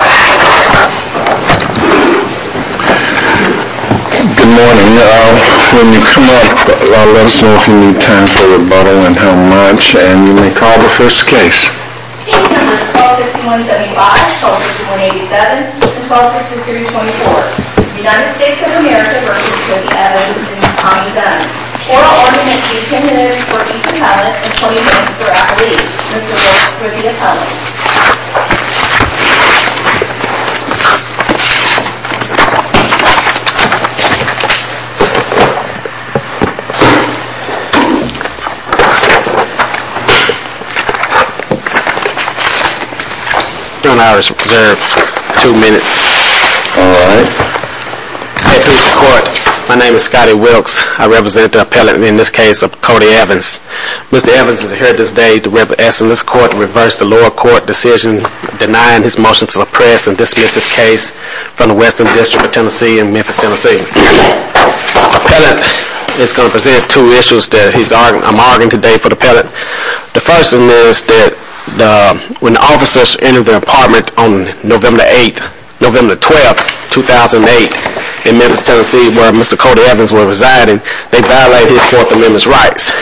Good morning. I'll let you come up. I'll let you know if you need time for rebuttal and how much, and you may call the first case. Case number 126175, shelter 287, and 126234, United States of America v. Kody Evans and Tommie Dunn. Oral argument is 10 minutes for Ethan Pallett and 20 minutes for Apolli, Mr. Wolf, with the appellant. I reserve two minutes. My name is Scotty Wilkes. I represent the appellant in this case of Kody Evans. Mr. Evans is here today to represent this court to reverse the lower court decision denying his motion to suppress and dismiss this case from the Western District of Tennessee and Memphis, Tennessee. The appellant is going to present two issues that I'm arguing today for the appellant. The first is that when the officers entered the apartment on November 12, 2008, in Memphis, Tennessee, where Mr. Kody Evans was residing, they violated his Fourth Amendment rights.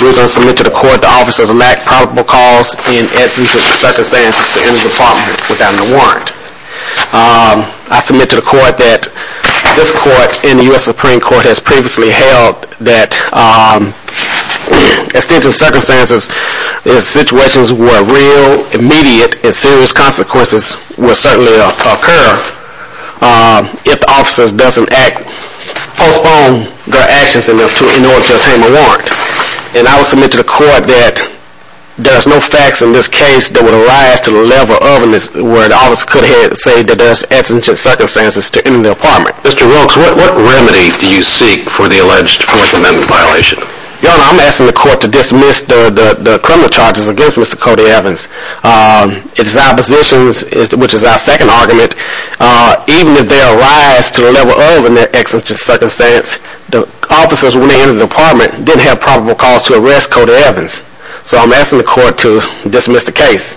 We're going to submit to the court that the officers lacked probable cause in essence of the circumstances to enter the apartment without a warrant. I submit to the court that this court and the U.S. Supreme Court has previously held that, extensive circumstances and situations where real, immediate, and serious consequences will certainly occur if the officers don't postpone their actions in order to obtain a warrant. And I will submit to the court that there's no facts in this case that would arise to the level of where the officers could have said that there's extensive circumstances to enter the apartment. Mr. Wilkes, what remedy do you seek for the alleged Fourth Amendment violation? Your Honor, I'm asking the court to dismiss the criminal charges against Mr. Kody Evans. It's our position, which is our second argument, even if they arise to the level of an extensive circumstance, that the officers, when they entered the apartment, didn't have probable cause to arrest Mr. Kody Evans. So I'm asking the court to dismiss the case.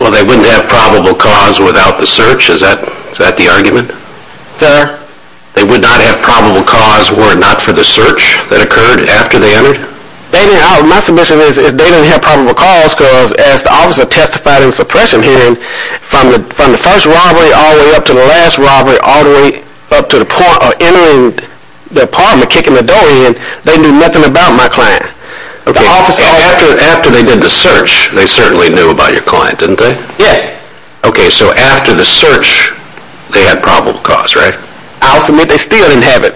Well, they wouldn't have probable cause without the search? Is that the argument? Sir? They would not have probable cause were it not for the search that occurred after they entered? My submission is they didn't have probable cause because as the officer testified in the suppression hearing, from the first robbery all the way up to the last robbery all the way up to the point of entering the apartment, kicking the door in, they knew nothing about my client. After they did the search, they certainly knew about your client, didn't they? Yes. Okay, so after the search, they had probable cause, right? I'll submit they still didn't have it.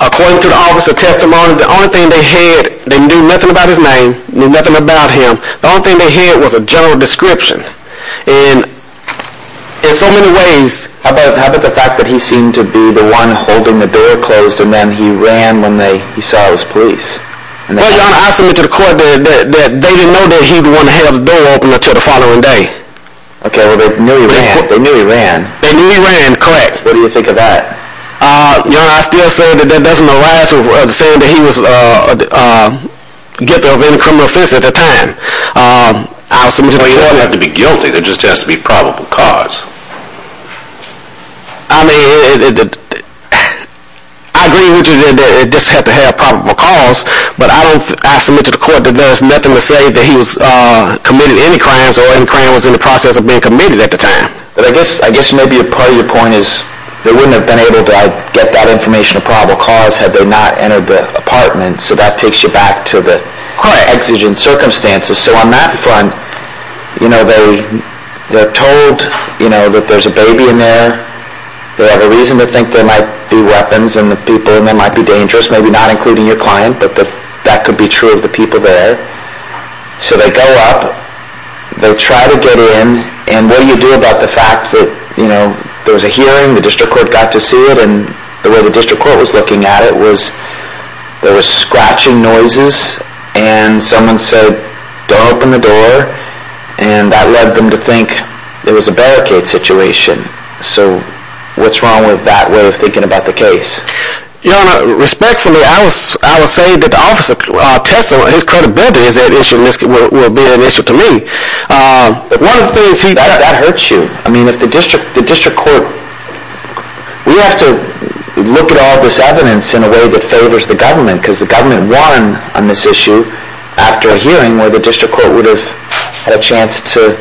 According to the officer's testimony, the only thing they had, they knew nothing about his name, knew nothing about him, the only thing they had was a general description. And in so many ways... How about the fact that he seemed to be the one holding the door closed and then he ran when he saw his police? Well, Your Honor, I submit to the court that they didn't know that he was the one who held the door open until the following day. Okay, well they knew he ran. They knew he ran, correct. What do you think of that? Your Honor, I still say that that doesn't allow us to say that he was guilty of any criminal offense at the time. I'll submit to the court that... Well, you don't have to be guilty, there just has to be probable cause. I mean, I agree with you that it just had to have probable cause, but I submit to the court that there is nothing to say that he committed any crimes or any crimes was in the process of being committed at the time. But I guess maybe a part of your point is they wouldn't have been able to get that information of probable cause had they not entered the apartment, so that takes you back to the exigent circumstances. So on that front, they're told that there's a baby in there. They have a reason to think there might be weapons in the people and they might be dangerous, maybe not including your client, but that could be true of the people there. So they go up, they try to get in, and what do you do about the fact that there was a hearing, the district court got to see it, and the way the district court was looking at it was there was scratching noises and someone said, don't open the door, and that led them to think it was a barricade situation. So what's wrong with that way of thinking about the case? Your Honor, respectfully, I will say that the officer tested his credibility, and this will be an issue to me. One of the things he did. That hurts you. I mean, if the district court, we have to look at all this evidence in a way that favors the government, because the government won on this issue after a hearing where the district court would have had a chance to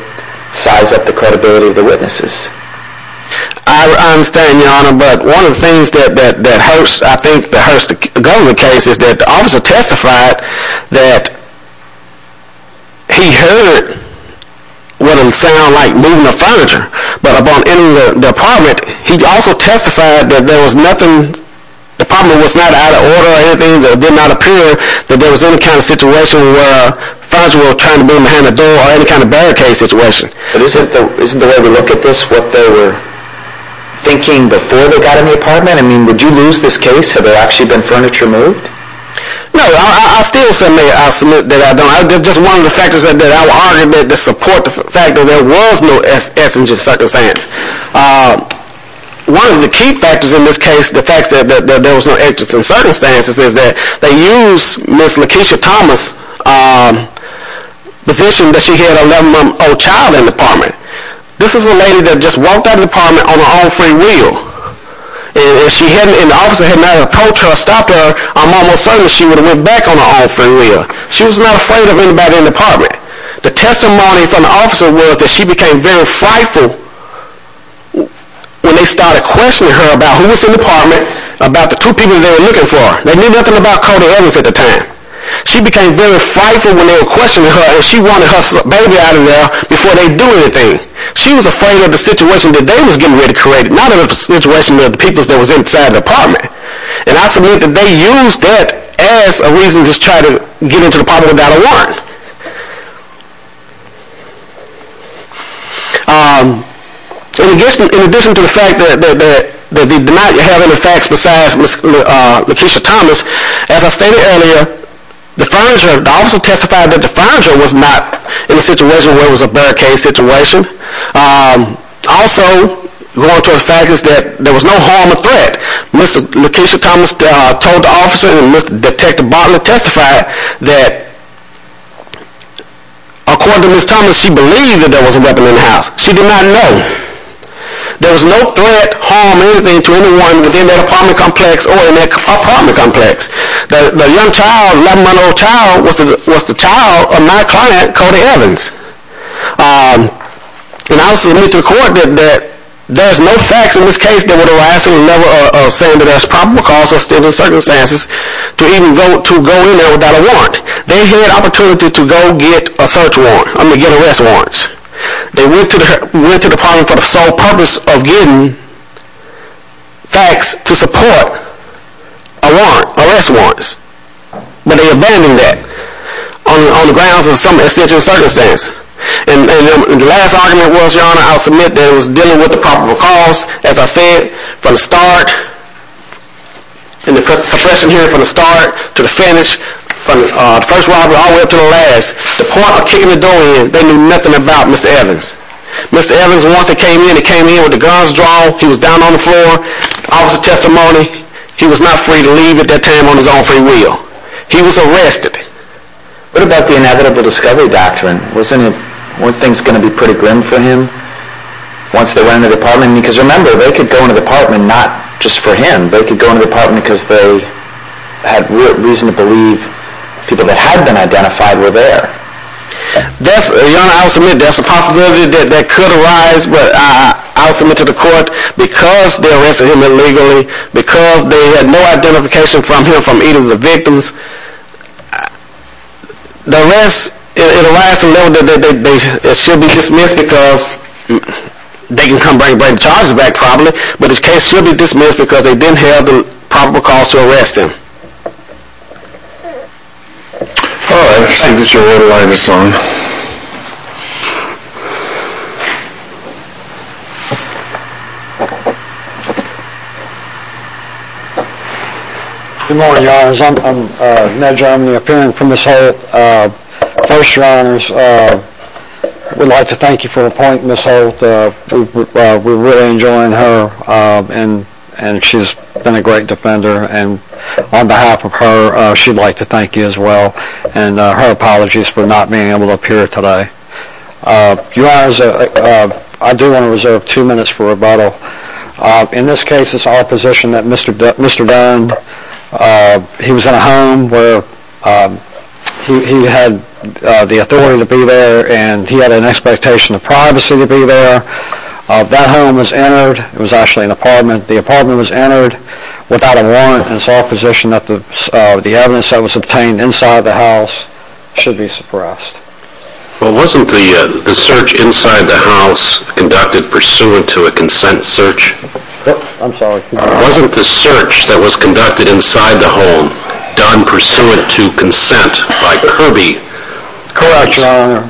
size up the credibility of the witnesses. I understand, Your Honor, but one of the things that hurts, I think, that hurts the government case is that the officer testified that he heard what would sound like moving of furniture, but upon entering the apartment, he also testified that there was nothing, the apartment was not out of order or anything, that it did not appear that there was any kind of situation where furniture was trying to move behind the door or any kind of barricade situation. Isn't the way we look at this what they were thinking before they got in the apartment? I mean, would you lose this case had there actually been furniture moved? No, I still submit that I don't. That's just one of the factors that I will argue to support the fact that there was no essential circumstance. One of the key factors in this case, the fact that there was no existential circumstance, is that they used Ms. Lakeisha Thomas' position that she had an 11-month-old child in the apartment. This is a lady that just walked out of the apartment on her own free will. If the officer had not approached her or stopped her, I'm almost certain that she would have went back on her own free will. She was not afraid of anybody in the apartment. The testimony from the officer was that she became very frightful when they started questioning her about who was in the apartment, about the two people they were looking for. They knew nothing about Cody Evans at the time. She became very frightful when they were questioning her, and she wanted her baby out of there before they'd do anything. She was afraid of the situation that they was getting ready to create, not of the situation of the people that was inside the apartment. I submit that they used that as a reason to try to get into the apartment without a warrant. In addition to the fact that they did not have any facts besides Ms. Lakeisha Thomas, as I stated earlier, the officer testified that the furniture was not in a situation where it was a barricade situation. Also, there was no harm or threat. Ms. Lakeisha Thomas told the officer and Mr. Detective Bartlett testified that according to Ms. Thomas, she believed that there was a weapon in the house. She did not know. There was no threat, harm, or anything to anyone within that apartment complex or in that apartment complex. The 11-month-old child was the child of my client, Cody Evans. I submit to the court that there's no facts in this case that would arise from the level of saying that there's probable cause or circumstances to even go in there without a warrant. They had an opportunity to go get a search warrant, I mean get arrest warrants. They went to the apartment for the sole purpose of getting facts to support arrest warrants. But they abandoned that on the grounds of some essential circumstances. And the last argument was, Your Honor, I submit that it was dealing with the probable cause. As I said, from the start and the suppression here from the start to the finish, from the first robbery all the way up to the last, the point of kicking the door in, they knew nothing about Mr. Evans. Mr. Evans, once they came in, they came in with the guns drawn, he was down on the floor, officer's testimony. He was not free to leave at that time on his own free will. He was arrested. What about the inevitable discovery doctrine? Weren't things going to be pretty grim for him once they went into the apartment? Your Honor, I'll submit that's a possibility that could arise, but I'll submit to the court, because they arrested him illegally, because they had no identification from him from either of the victims, the arrest, it arrives to the level that it should be dismissed because they can come bring the charges back probably, but the case should be dismissed because they didn't have the probable cause to arrest him. All right. I see that you're ready by this time. Good morning, Your Honors. I'm Ned Germany, appearing for Ms. Holt. First, Your Honors, I would like to thank you for appointing Ms. Holt. We're really enjoying her, and she's been a great defender, and on behalf of her, she'd like to thank you as well, and her apologies for not being able to appear today. Your Honors, I do want to reserve two minutes for rebuttal. In this case, it's our position that Mr. Dern, he was in a home where he had the authority to be there, and he had an expectation of privacy to be there. That home was entered. It was actually an apartment. The apartment was entered without a warrant, and it's our position that the evidence that was obtained inside the house should be suppressed. Well, wasn't the search inside the house conducted pursuant to a consent search? I'm sorry. Wasn't the search that was conducted inside the home done pursuant to consent by Kirby? Correct, Your Honor.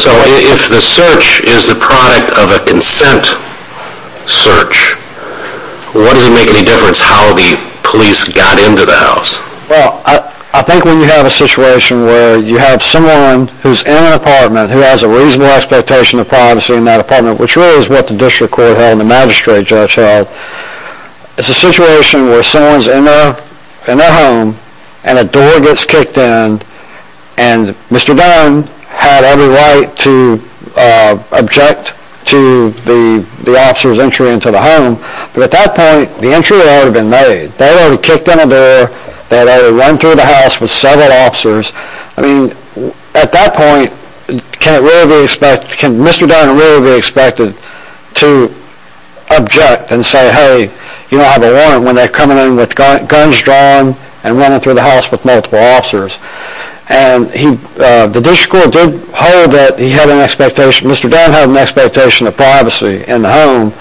So if the search is the product of a consent search, what does it make any difference how the police got into the house? Well, I think when you have a situation where you have someone who's in an apartment, who has a reasonable expectation of privacy in that apartment, which really is what the district court held and the magistrate judge held, it's a situation where someone's in their home, and a door gets kicked in, and Mr. Dern had every right to object to the officer's entry into the home, but at that point, the entry had already been made. They had already kicked in a door. They had already run through the house with several officers. At that point, can Mr. Dern really be expected to object and say, hey, you don't have a warrant when they're coming in with guns drawn and running through the house with multiple officers? The district court did hold that Mr. Dern had an expectation of privacy in the home,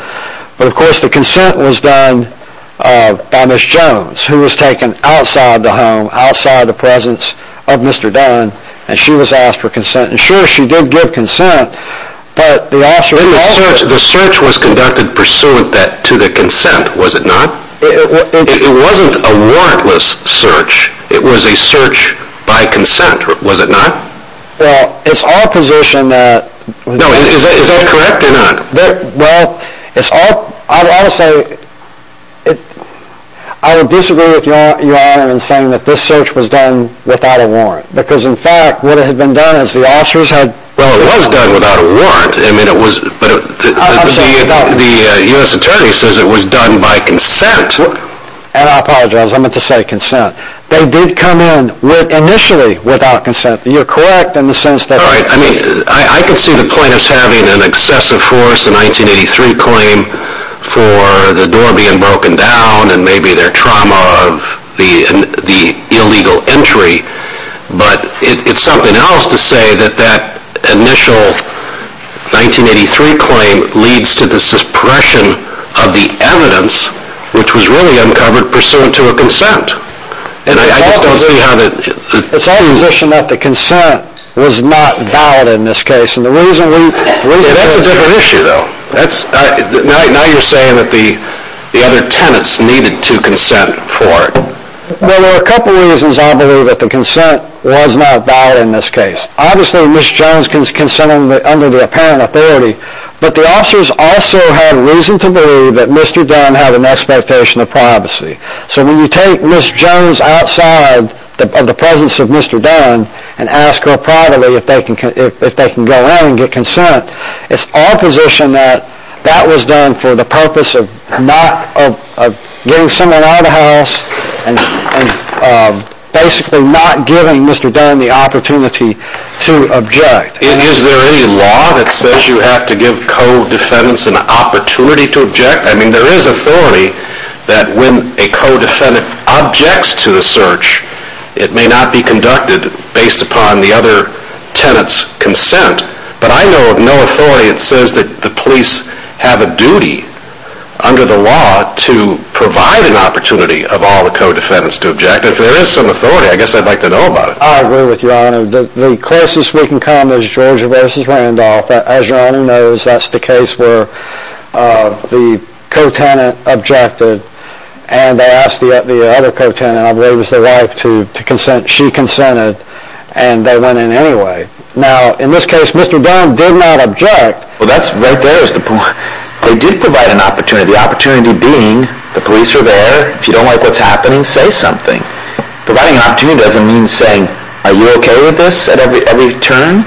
but of course the consent was done by Ms. Jones, who was taken outside the home, outside the presence of Mr. Dern, and she was asked for consent. And sure, she did give consent, but the officer called it. The search was conducted pursuant to the consent, was it not? It wasn't a warrantless search. It was a search by consent, was it not? Well, it's our position that... No, is that correct or not? Well, I would disagree with Your Honor in saying that this search was done without a warrant, because in fact what had been done is the officers had... Well, it was done without a warrant, but the U.S. Attorney says it was done by consent. And I apologize, I meant to say consent. They did come in initially without consent. You're correct in the sense that... I can see the plaintiffs having an excessive force, a 1983 claim, for the door being broken down and maybe their trauma of the illegal entry, but it's something else to say that that initial 1983 claim leads to the suppression of the evidence, which was really uncovered pursuant to a consent. It's our position that the consent was not valid in this case. That's a different issue, though. Now you're saying that the other tenants needed to consent for it. Well, there are a couple of reasons I believe that the consent was not valid in this case. Obviously, Ms. Jones can consent under the apparent authority, but the officers also had reason to believe that Mr. Dunn had an expectation of privacy. So when you take Ms. Jones outside of the presence of Mr. Dunn and ask her privately if they can go in and get consent, it's our position that that was done for the purpose of getting someone out of the house and basically not giving Mr. Dunn the opportunity to object. Is there any law that says you have to give co-defendants an opportunity to object? I mean, there is authority that when a co-defendant objects to a search, it may not be conducted based upon the other tenant's consent. But I know of no authority that says that the police have a duty under the law to provide an opportunity of all the co-defendants to object. If there is some authority, I guess I'd like to know about it. I agree with you, Your Honor. The closest we can come is Georgia v. Randolph. As Your Honor knows, that's the case where the co-tenant objected and they asked the other co-tenant, I believe it was their wife, she consented and they went in anyway. Now, in this case, Mr. Dunn did not object. Well, that's right there is the point. They did provide an opportunity, the opportunity being the police were there. If you don't like what's happening, say something. Providing an opportunity doesn't mean saying, Are you okay with this at every turn?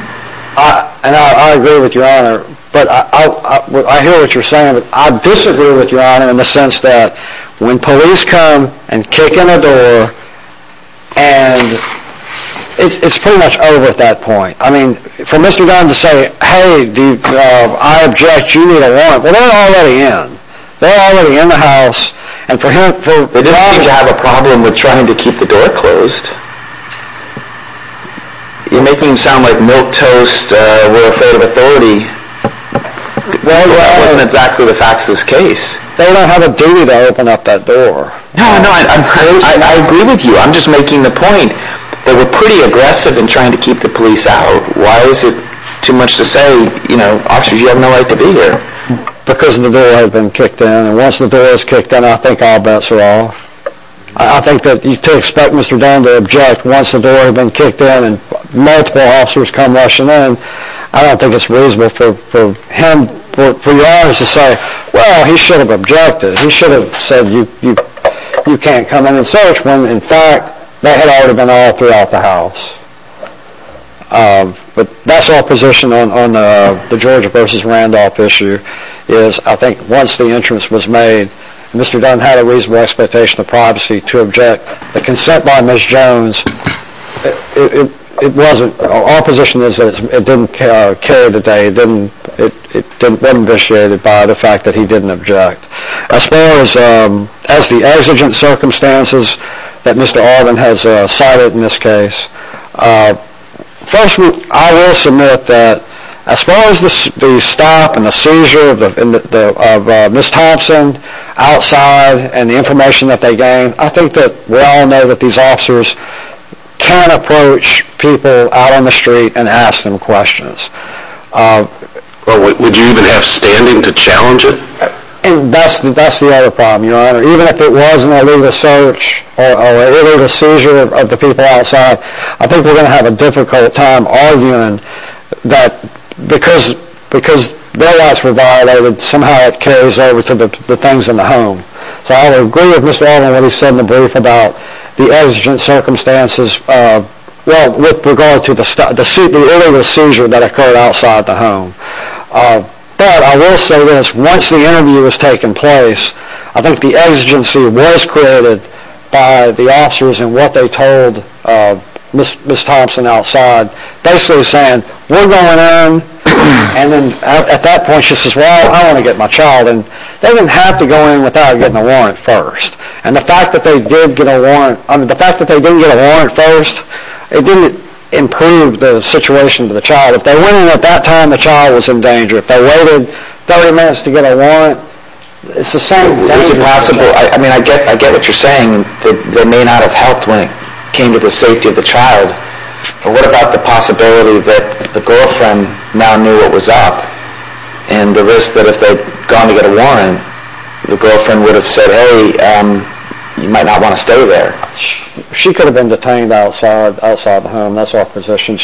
I agree with you, Your Honor. But I hear what you're saying, but I disagree with you, Your Honor, in the sense that when police come and kick in the door, and it's pretty much over at that point. I mean, for Mr. Dunn to say, Hey, I object, you need a warrant. They're already in the house. They didn't seem to have a problem with trying to keep the door closed. You're making it sound like milquetoast, we're afraid of authority. That wasn't exactly the facts of this case. They don't have a duty to open up that door. No, no, I agree with you. I'm just making the point that we're pretty aggressive in trying to keep the police out. Why is it too much to say, you know, officers, you have no right to be here. Because the door had been kicked in, and once the door is kicked in, I think all bets are off. I think that to expect Mr. Dunn to object once the door had been kicked in and multiple officers come rushing in, I don't think it's reasonable for him, for Your Honor, to say, Well, he should have objected. He should have said, You can't come in and search when, in fact, they had already been all throughout the house. But that's our position on the George v. Randolph issue, is I think once the entrance was made, Mr. Dunn had a reasonable expectation of privacy to object. The consent by Ms. Jones, it wasn't. Our position is that it didn't carry the day. It didn't been initiated by the fact that he didn't object. As far as the exigent circumstances that Mr. Arvin has cited in this case, first, I will submit that as far as the stop and the seizure of Ms. Thompson outside and the information that they gained, I think that we all know that these officers can approach people out on the street and ask them questions. Would you even have standing to challenge it? That's the other problem, Your Honor. Even if it wasn't an illegal search or an illegal seizure of the people outside, I think we're going to have a difficult time arguing that because their rights were violated, somehow it carries over to the things in the home. So I would agree with Mr. Arvin when he said in the brief about the exigent circumstances, well, with regard to the illegal seizure that occurred outside the home. But I will say this, once the interview has taken place, I think the exigency was created by the officers and what they told Ms. Thompson outside, basically saying, we're going in. And then at that point she says, well, I want to get my child in. They didn't have to go in without getting a warrant first. And the fact that they didn't get a warrant first, it didn't improve the situation of the child. If they went in at that time, the child was in danger. If they waited 30 minutes to get a warrant, it's the same danger. Is it possible, I mean, I get what you're saying, that they may not have helped when it came to the safety of the child. But what about the possibility that the girlfriend now knew what was up and the risk that if they'd gone to get a warrant, the girlfriend would have said, hey, you might not want to stay there. She could have been detained outside the home, that's our position.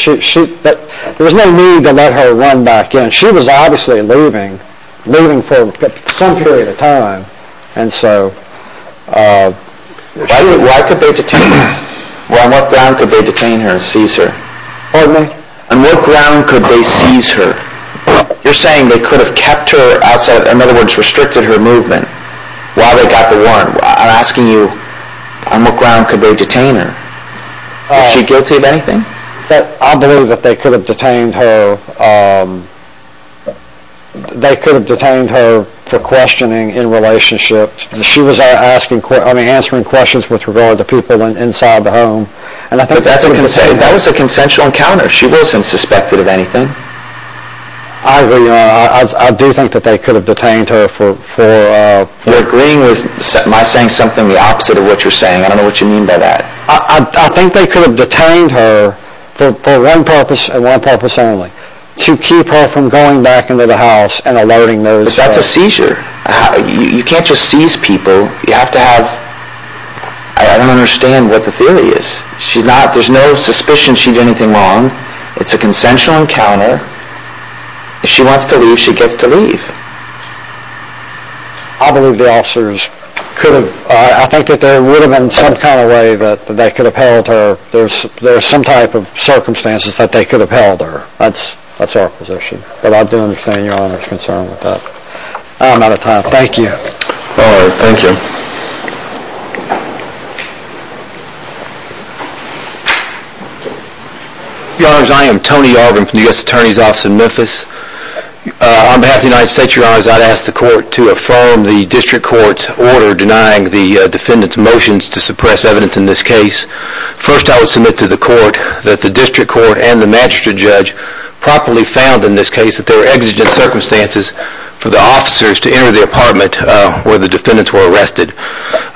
There was no need to let her run back in. And she was obviously leaving, leaving for some period of time. And so why could they detain her? On what ground could they detain her and seize her? Pardon me? On what ground could they seize her? You're saying they could have kept her outside, in other words, restricted her movement while they got the warrant. I'm asking you, on what ground could they detain her? Is she guilty of anything? I believe that they could have detained her for questioning in relationships. She was answering questions with regard to people inside the home. But that was a consensual encounter. She wasn't suspected of anything. I do think that they could have detained her for… You're agreeing with my saying something the opposite of what you're saying. I don't know what you mean by that. I think they could have detained her for one purpose and one purpose only, to keep her from going back into the house and alerting those… But that's a seizure. You can't just seize people. You have to have… I don't understand what the theory is. There's no suspicion she did anything wrong. It's a consensual encounter. If she wants to leave, she gets to leave. I believe the officers could have… I think that there would have been some kind of way that they could have held her. There's some type of circumstances that they could have held her. That's our position. But I do understand Your Honor's concern with that. I'm out of time. Thank you. All right. Thank you. Your Honors, I am Tony Yarbrough from the U.S. Attorney's Office in Memphis. On behalf of the United States, Your Honors, I'd ask the Court to affirm the District Court's order denying the defendants' motions to suppress evidence in this case. First, I would submit to the Court that the District Court and the Magistrate Judge properly found in this case that there were exigent circumstances for the officers to enter the apartment where the defendants were arrested.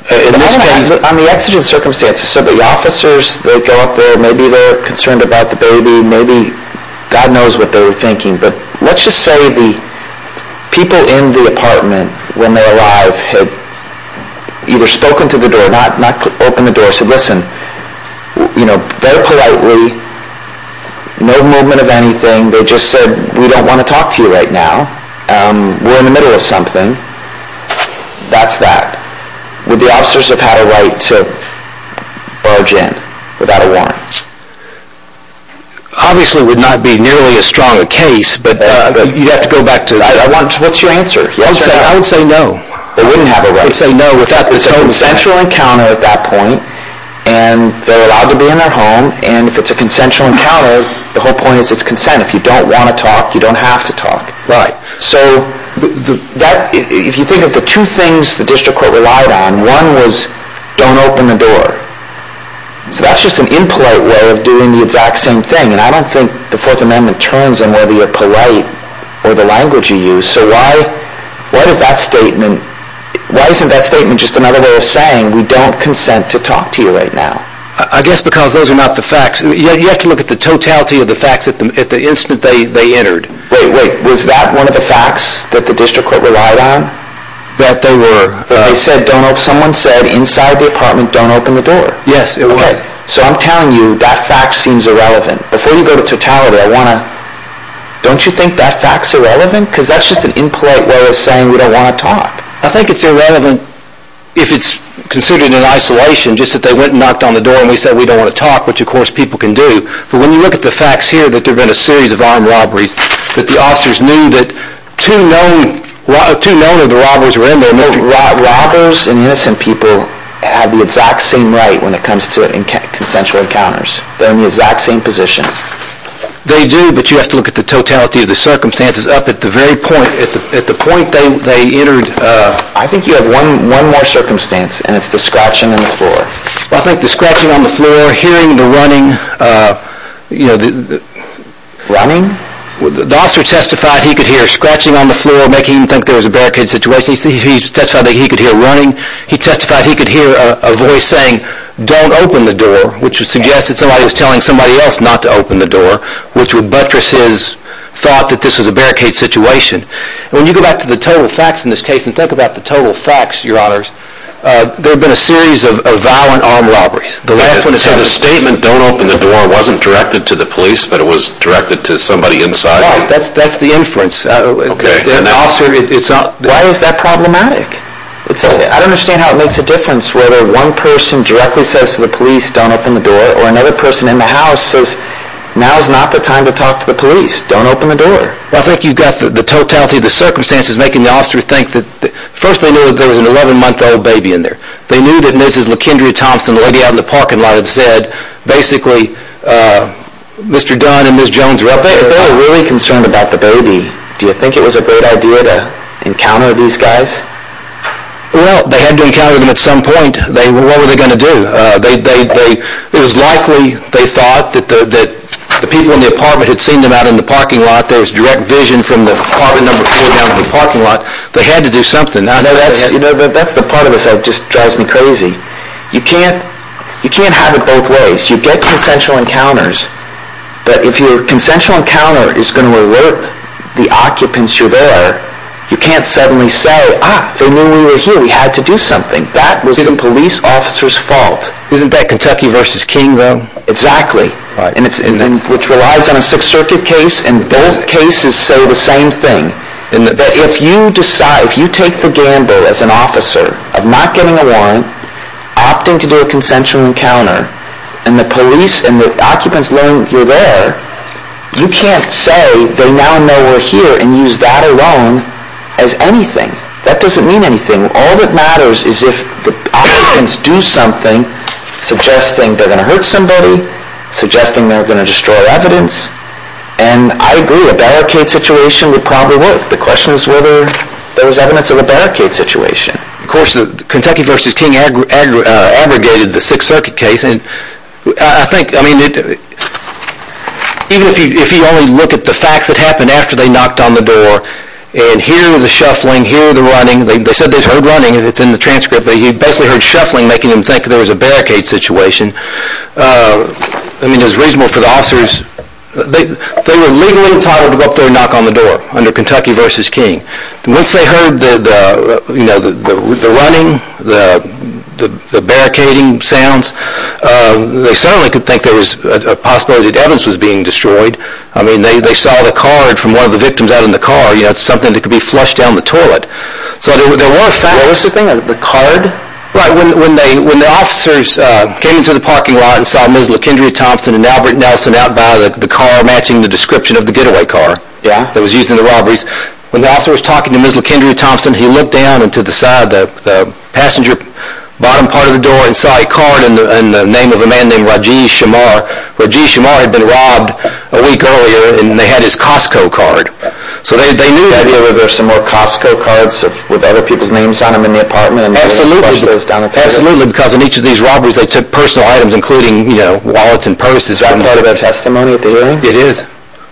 On the exigent circumstances, so the officers, they go up there, maybe they're concerned about the baby, maybe… God knows what they were thinking. But let's just say the people in the apartment when they arrived had either spoken to the door, not opened the door, said, listen, you know, very politely, no movement of anything. They just said, we don't want to talk to you right now. We're in the middle of something. That's that. Would the officers have had a right to barge in without a warrant? Obviously, it would not be nearly as strong a case, but… You'd have to go back to… What's your answer? I would say no. They wouldn't have a right. I would say no. It's a consensual encounter at that point, and they're allowed to be in their home, and if it's a consensual encounter, the whole point is it's consent. If you don't want to talk, you don't have to talk. Right. So that's just an impolite way of doing the exact same thing, and I don't think the Fourth Amendment turns on whether you're polite or the language you use. So why does that statement… Why isn't that statement just another way of saying we don't consent to talk to you right now? I guess because those are not the facts. You have to look at the totality of the facts at the instant they entered. Wait, wait. Was that one of the facts that the district court relied on? That they were… Someone said inside the apartment don't open the door. Yes, it was. So I'm telling you that fact seems irrelevant. Before you go to totality, I want to… Don't you think that fact's irrelevant? Because that's just an impolite way of saying we don't want to talk. I think it's irrelevant if it's considered in isolation, just that they went and knocked on the door and we said we don't want to talk, which, of course, people can do. But when you look at the facts here that there have been a series of armed robberies, that the officers knew that two known of the robberies were in there and the known robbers and innocent people have the exact same right when it comes to consensual encounters. They're in the exact same position. They do, but you have to look at the totality of the circumstances up at the very point, at the point they entered. I think you have one more circumstance and it's the scratching on the floor. I think the scratching on the floor, hearing the running, you know, the… Running? The officer testified he could hear scratching on the floor, making him think there was a barricade situation. He testified that he could hear running. He testified he could hear a voice saying don't open the door, which would suggest that somebody was telling somebody else not to open the door, which would buttress his thought that this was a barricade situation. When you go back to the total facts in this case and think about the total facts, Your Honors, there have been a series of violent armed robberies. So the statement don't open the door wasn't directed to the police, but it was directed to somebody inside? Right. That's the inference. Why is that problematic? I don't understand how it makes a difference whether one person directly says to the police don't open the door or another person in the house says now is not the time to talk to the police. Don't open the door. I think you've got the totality of the circumstances making the officer think that… First, they knew there was an 11-month-old baby in there. They knew that Mrs. LaKindria Thompson, the lady out in the parking lot, had said basically Mr. Dunn and Ms. Jones are up there. If they were really concerned about the baby, do you think it was a great idea to encounter these guys? Well, they had to encounter them at some point. What were they going to do? It was likely they thought that the people in the apartment had seen them out in the parking lot. There was direct vision from the apartment number four down in the parking lot. They had to do something. That's the part of this that just drives me crazy. You can't have it both ways. You get consensual encounters, but if your consensual encounter is going to alert the occupants you're there, you can't suddenly say, ah, they knew we were here. We had to do something. That was the police officer's fault. Isn't that Kentucky v. King, though? Exactly. Which relies on a Sixth Circuit case, and both cases say the same thing. If you take the gamble as an officer of not getting a warrant, opting to do a consensual encounter, and the police and the occupants learn you're there, you can't say they now know we're here and use that alone as anything. That doesn't mean anything. All that matters is if the occupants do something suggesting they're going to hurt somebody, suggesting they're going to destroy evidence, and I agree, a barricade situation would probably work. The question is whether there was evidence of a barricade situation. Of course, Kentucky v. King aggregated the Sixth Circuit case and I think, I mean, even if you only look at the facts that happened after they knocked on the door and hear the shuffling, hear the running, they said they heard running, it's in the transcript, but he basically heard shuffling making him think there was a barricade situation. I mean, it was reasonable for the officers. They were legally entitled to go up there and knock on the door under Kentucky v. King. Once they heard the running, the barricading sounds, they certainly could think there was a possibility that evidence was being destroyed. I mean, they saw the card from one of the victims out in the car. It's something that could be flushed down the toilet. So there were facts. Where was the thing, the card? Right, when the officers came into the parking lot and saw Ms. LaKindria Thompson and Albert Nelson out by the car matching the description of the getaway car that was used in the robberies, when the officer was talking to Ms. LaKindria Thompson, he looked down into the passenger bottom part of the door and saw a card in the name of a man named Rajiv Shamar. Rajiv Shamar had been robbed a week earlier and they had his Costco card. So they knew that there were some more Costco cards with other people's names on them in the apartment. Absolutely, because in each of these robberies they took personal items, including wallets and purses. Isn't that a testimony theory? It is.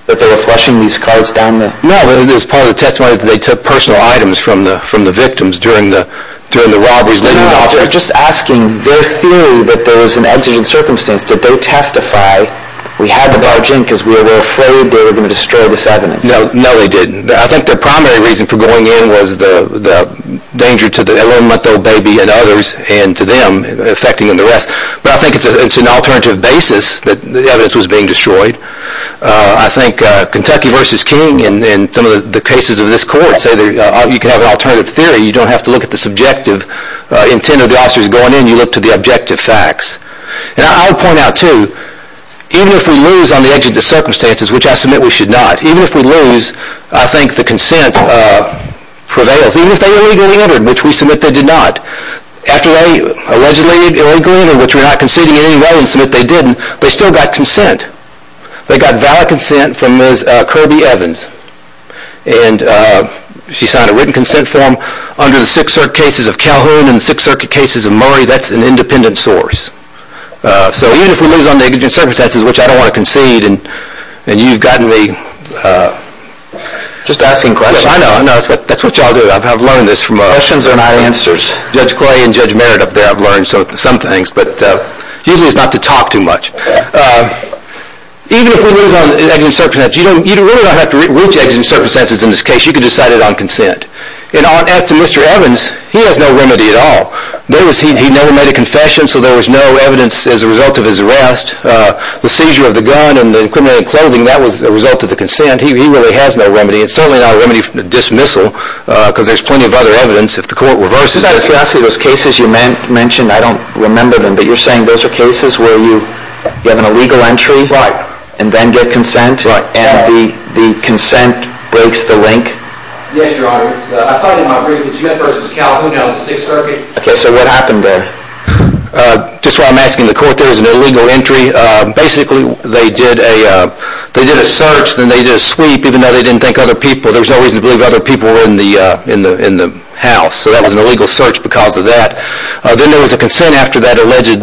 That they were flushing these cards down the toilet. No, it is part of the testimony that they took personal items from the victims during the robberies. I'm just asking, their theory that there was an exigent circumstance, did they testify, we had to barge in because we were afraid they were going to destroy this evidence? No, they didn't. I think the primary reason for going in was the danger to the 11-month-old baby and others and to them affecting them and the rest. But I think it's an alternative basis that the evidence was being destroyed. I think Kentucky v. King and some of the cases of this court say you can have an alternative theory. You don't have to look at the subjective intent of the officers going in. You look to the objective facts. And I would point out, too, even if we lose on the exigent circumstances, which I submit we should not, even if we lose, I think the consent prevails. Even if they were illegally entered, which we submit they did not, after they allegedly illegally entered, which we're not conceding in any way and submit they didn't, they still got consent. They got valid consent from Ms. Kirby Evans. And she signed a written consent form under the Sixth Circuit cases of Calhoun and the Sixth Circuit cases of Murray. That's an independent source. So even if we lose on the exigent circumstances, which I don't want to concede, and you've gotten me... Just asking questions. I know, I know. That's what y'all do. I've learned this from... Questions are not answers. Judge Clay and Judge Merritt up there, I've learned some things. Usually it's not to talk too much. Even if we lose on the exigent circumstances, you really don't have to reach exigent circumstances in this case. You can decide it on consent. And as to Mr. Evans, he has no remedy at all. He never made a confession, so there was no evidence as a result of his arrest. The seizure of the gun and the incriminating clothing, that was a result of the consent. He really has no remedy. It's certainly not a remedy for dismissal because there's plenty of other evidence. Those cases you mentioned, I don't remember them, but you're saying those are cases where you have an illegal entry and then get consent and the consent breaks the link? Yes, Your Honor. I saw it in my brief. It's U.S. v. California on the Sixth Circuit. Okay, so what happened there? Just while I'm asking the court, there was an illegal entry. Basically, they did a search, then they did a sweep, even though they didn't think other people, there was no reason to believe other people were in the house. So that was an illegal search because of that. Then there was a consent after that alleged,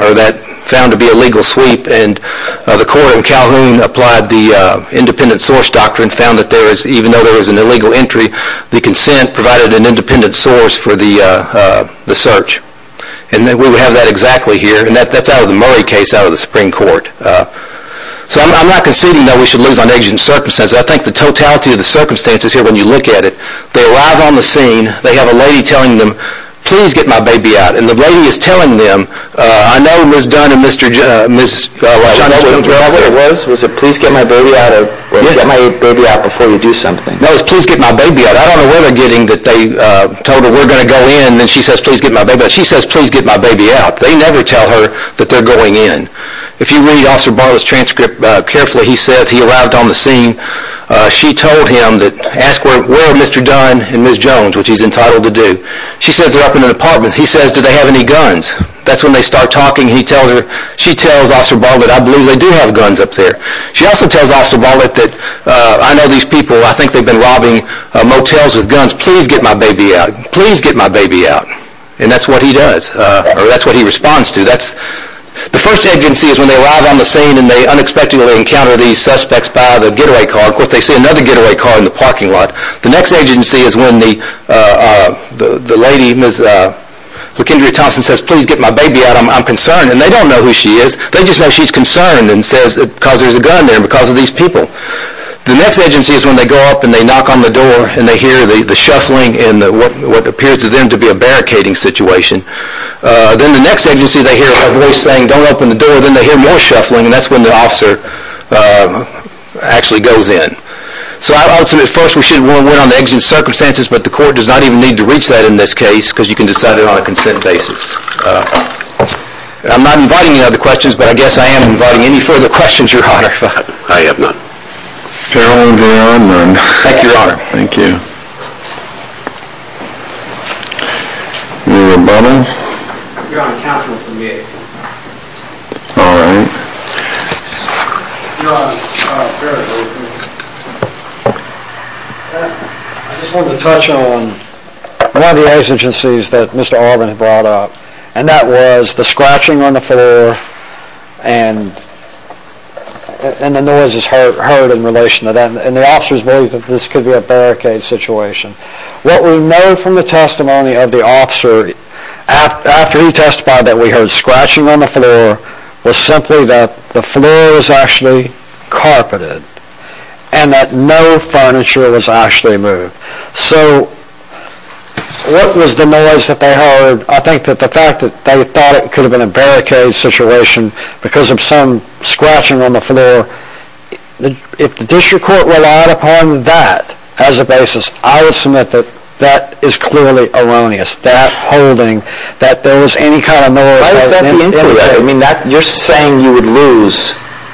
or that found to be a legal sweep, and the court in Calhoun applied the independent source doctrine, found that even though there was an illegal entry, the consent provided an independent source for the search. And we have that exactly here, and that's out of the Murray case out of the Supreme Court. So I'm not conceding that we should lose on agent circumstances. I think the totality of the circumstances here, when you look at it, they arrive on the scene, they have a lady telling them, please get my baby out. And the lady is telling them, I know Ms. Dunn and Ms. Johnson were out there. Was it please get my baby out or get my baby out before you do something? No, it was please get my baby out. I don't know where they're getting that they told her, we're going to go in, and then she says, please get my baby out. She says, please get my baby out. They never tell her that they're going in. If you read Officer Bartlett's transcript carefully, he says he arrived on the scene. She told him, ask where are Mr. Dunn and Ms. Jones, which he's entitled to do. She says they're up in an apartment. He says, do they have any guns? That's when they start talking. He tells her, she tells Officer Bartlett, I believe they do have guns up there. She also tells Officer Bartlett that I know these people, I think they've been robbing motels with guns. Please get my baby out. Please get my baby out. And that's what he does, or that's what he responds to. The first agency is when they arrive on the scene and they unexpectedly encounter these suspects by the getaway car. Of course, they see another getaway car in the parking lot. The next agency is when the lady, Ms. Lakendra Thompson, says, please get my baby out. I'm concerned. And they don't know who she is. They just know she's concerned because there's a gun there because of these people. The next agency is when they go up and they knock on the door and they hear the shuffling and what appears to them to be a barricading situation. Then the next agency, they hear a voice saying, don't open the door. Then they hear more shuffling and that's when the officer actually goes in. So I would submit first we should want to wait on the exigent circumstances, but the court does not even need to reach that in this case because you can decide it on a consent basis. I'm not inviting any other questions, but I guess I am inviting any further questions, Your Honor, if I have none. Caroline J. Ardman. Thank you, Your Honor. Thank you. You're a bummer. Your Honor, counsel will submit. All right. I just want to touch on one of the exigencies that Mr. Ardman brought up and that was the scratching on the floor and the noises heard in relation to that and the officers believe that this could be a barricade situation. What we know from the testimony of the officer, after he testified that we heard scratching on the floor, was simply that the floor was actually carpeted and that no furniture was actually moved. So what was the noise that they heard? I think that the fact that they thought it could have been a barricade situation because of some scratching on the floor, if the district court relied upon that as a basis, I would submit that that is clearly erroneous. That holding, that there was any kind of noise. Why does that be incorrect? I mean, you're saying you would lose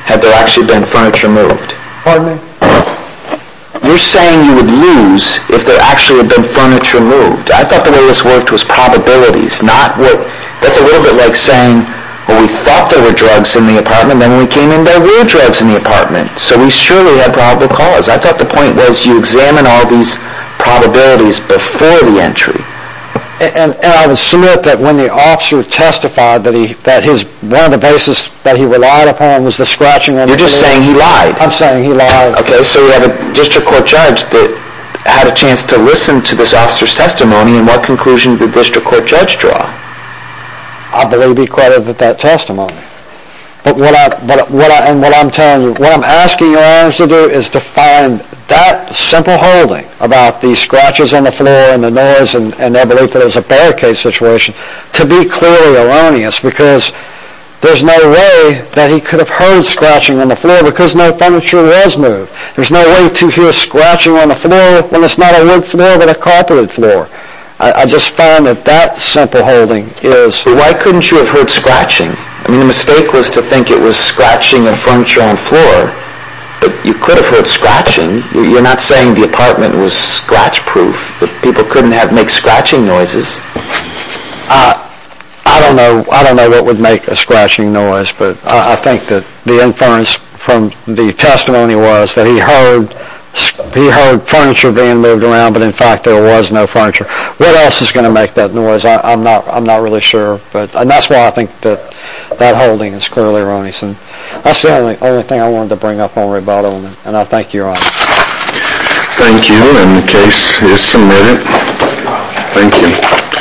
had there actually been furniture moved. Pardon me? You're saying you would lose if there actually had been furniture moved. I thought the way this worked was probabilities, not what... That's a little bit like saying, well, we thought there were drugs in the apartment, then we came in, there were drugs in the apartment. So we surely had probable cause. I thought the point was you examine all these probabilities before the entry. And I would submit that when the officer testified that one of the basis that he relied upon was the scratching on the floor... You're just saying he lied. I'm saying he lied. Okay, so we have a district court judge that had a chance to listen to this officer's testimony and what conclusion did the district court judge draw? I believe he credited that testimony. But what I'm telling you, what I'm asking your honors to do is to find that simple holding about the scratches on the floor and the noise and their belief that it was a barricade situation to be clearly erroneous because there's no way that he could have heard scratching on the floor because no furniture was moved. There's no way to hear scratching on the floor when it's not a wood floor but a carpeted floor. I just find that that simple holding is... Why couldn't you have heard scratching? I mean, the mistake was to think it was scratching of furniture on the floor. But you could have heard scratching. You're not saying the apartment was scratch-proof that people couldn't make scratching noises. I don't know what would make a scratching noise but I think that the inference from the testimony was that he heard furniture being moved around but in fact there was no furniture. What else is going to make that noise? I'm not really sure. And that's why I think that that holding is clearly erroneous. That's the only thing I wanted to bring up on Ray Baldwin and I thank you, Your Honor. Thank you. And the case is submitted. Thank you.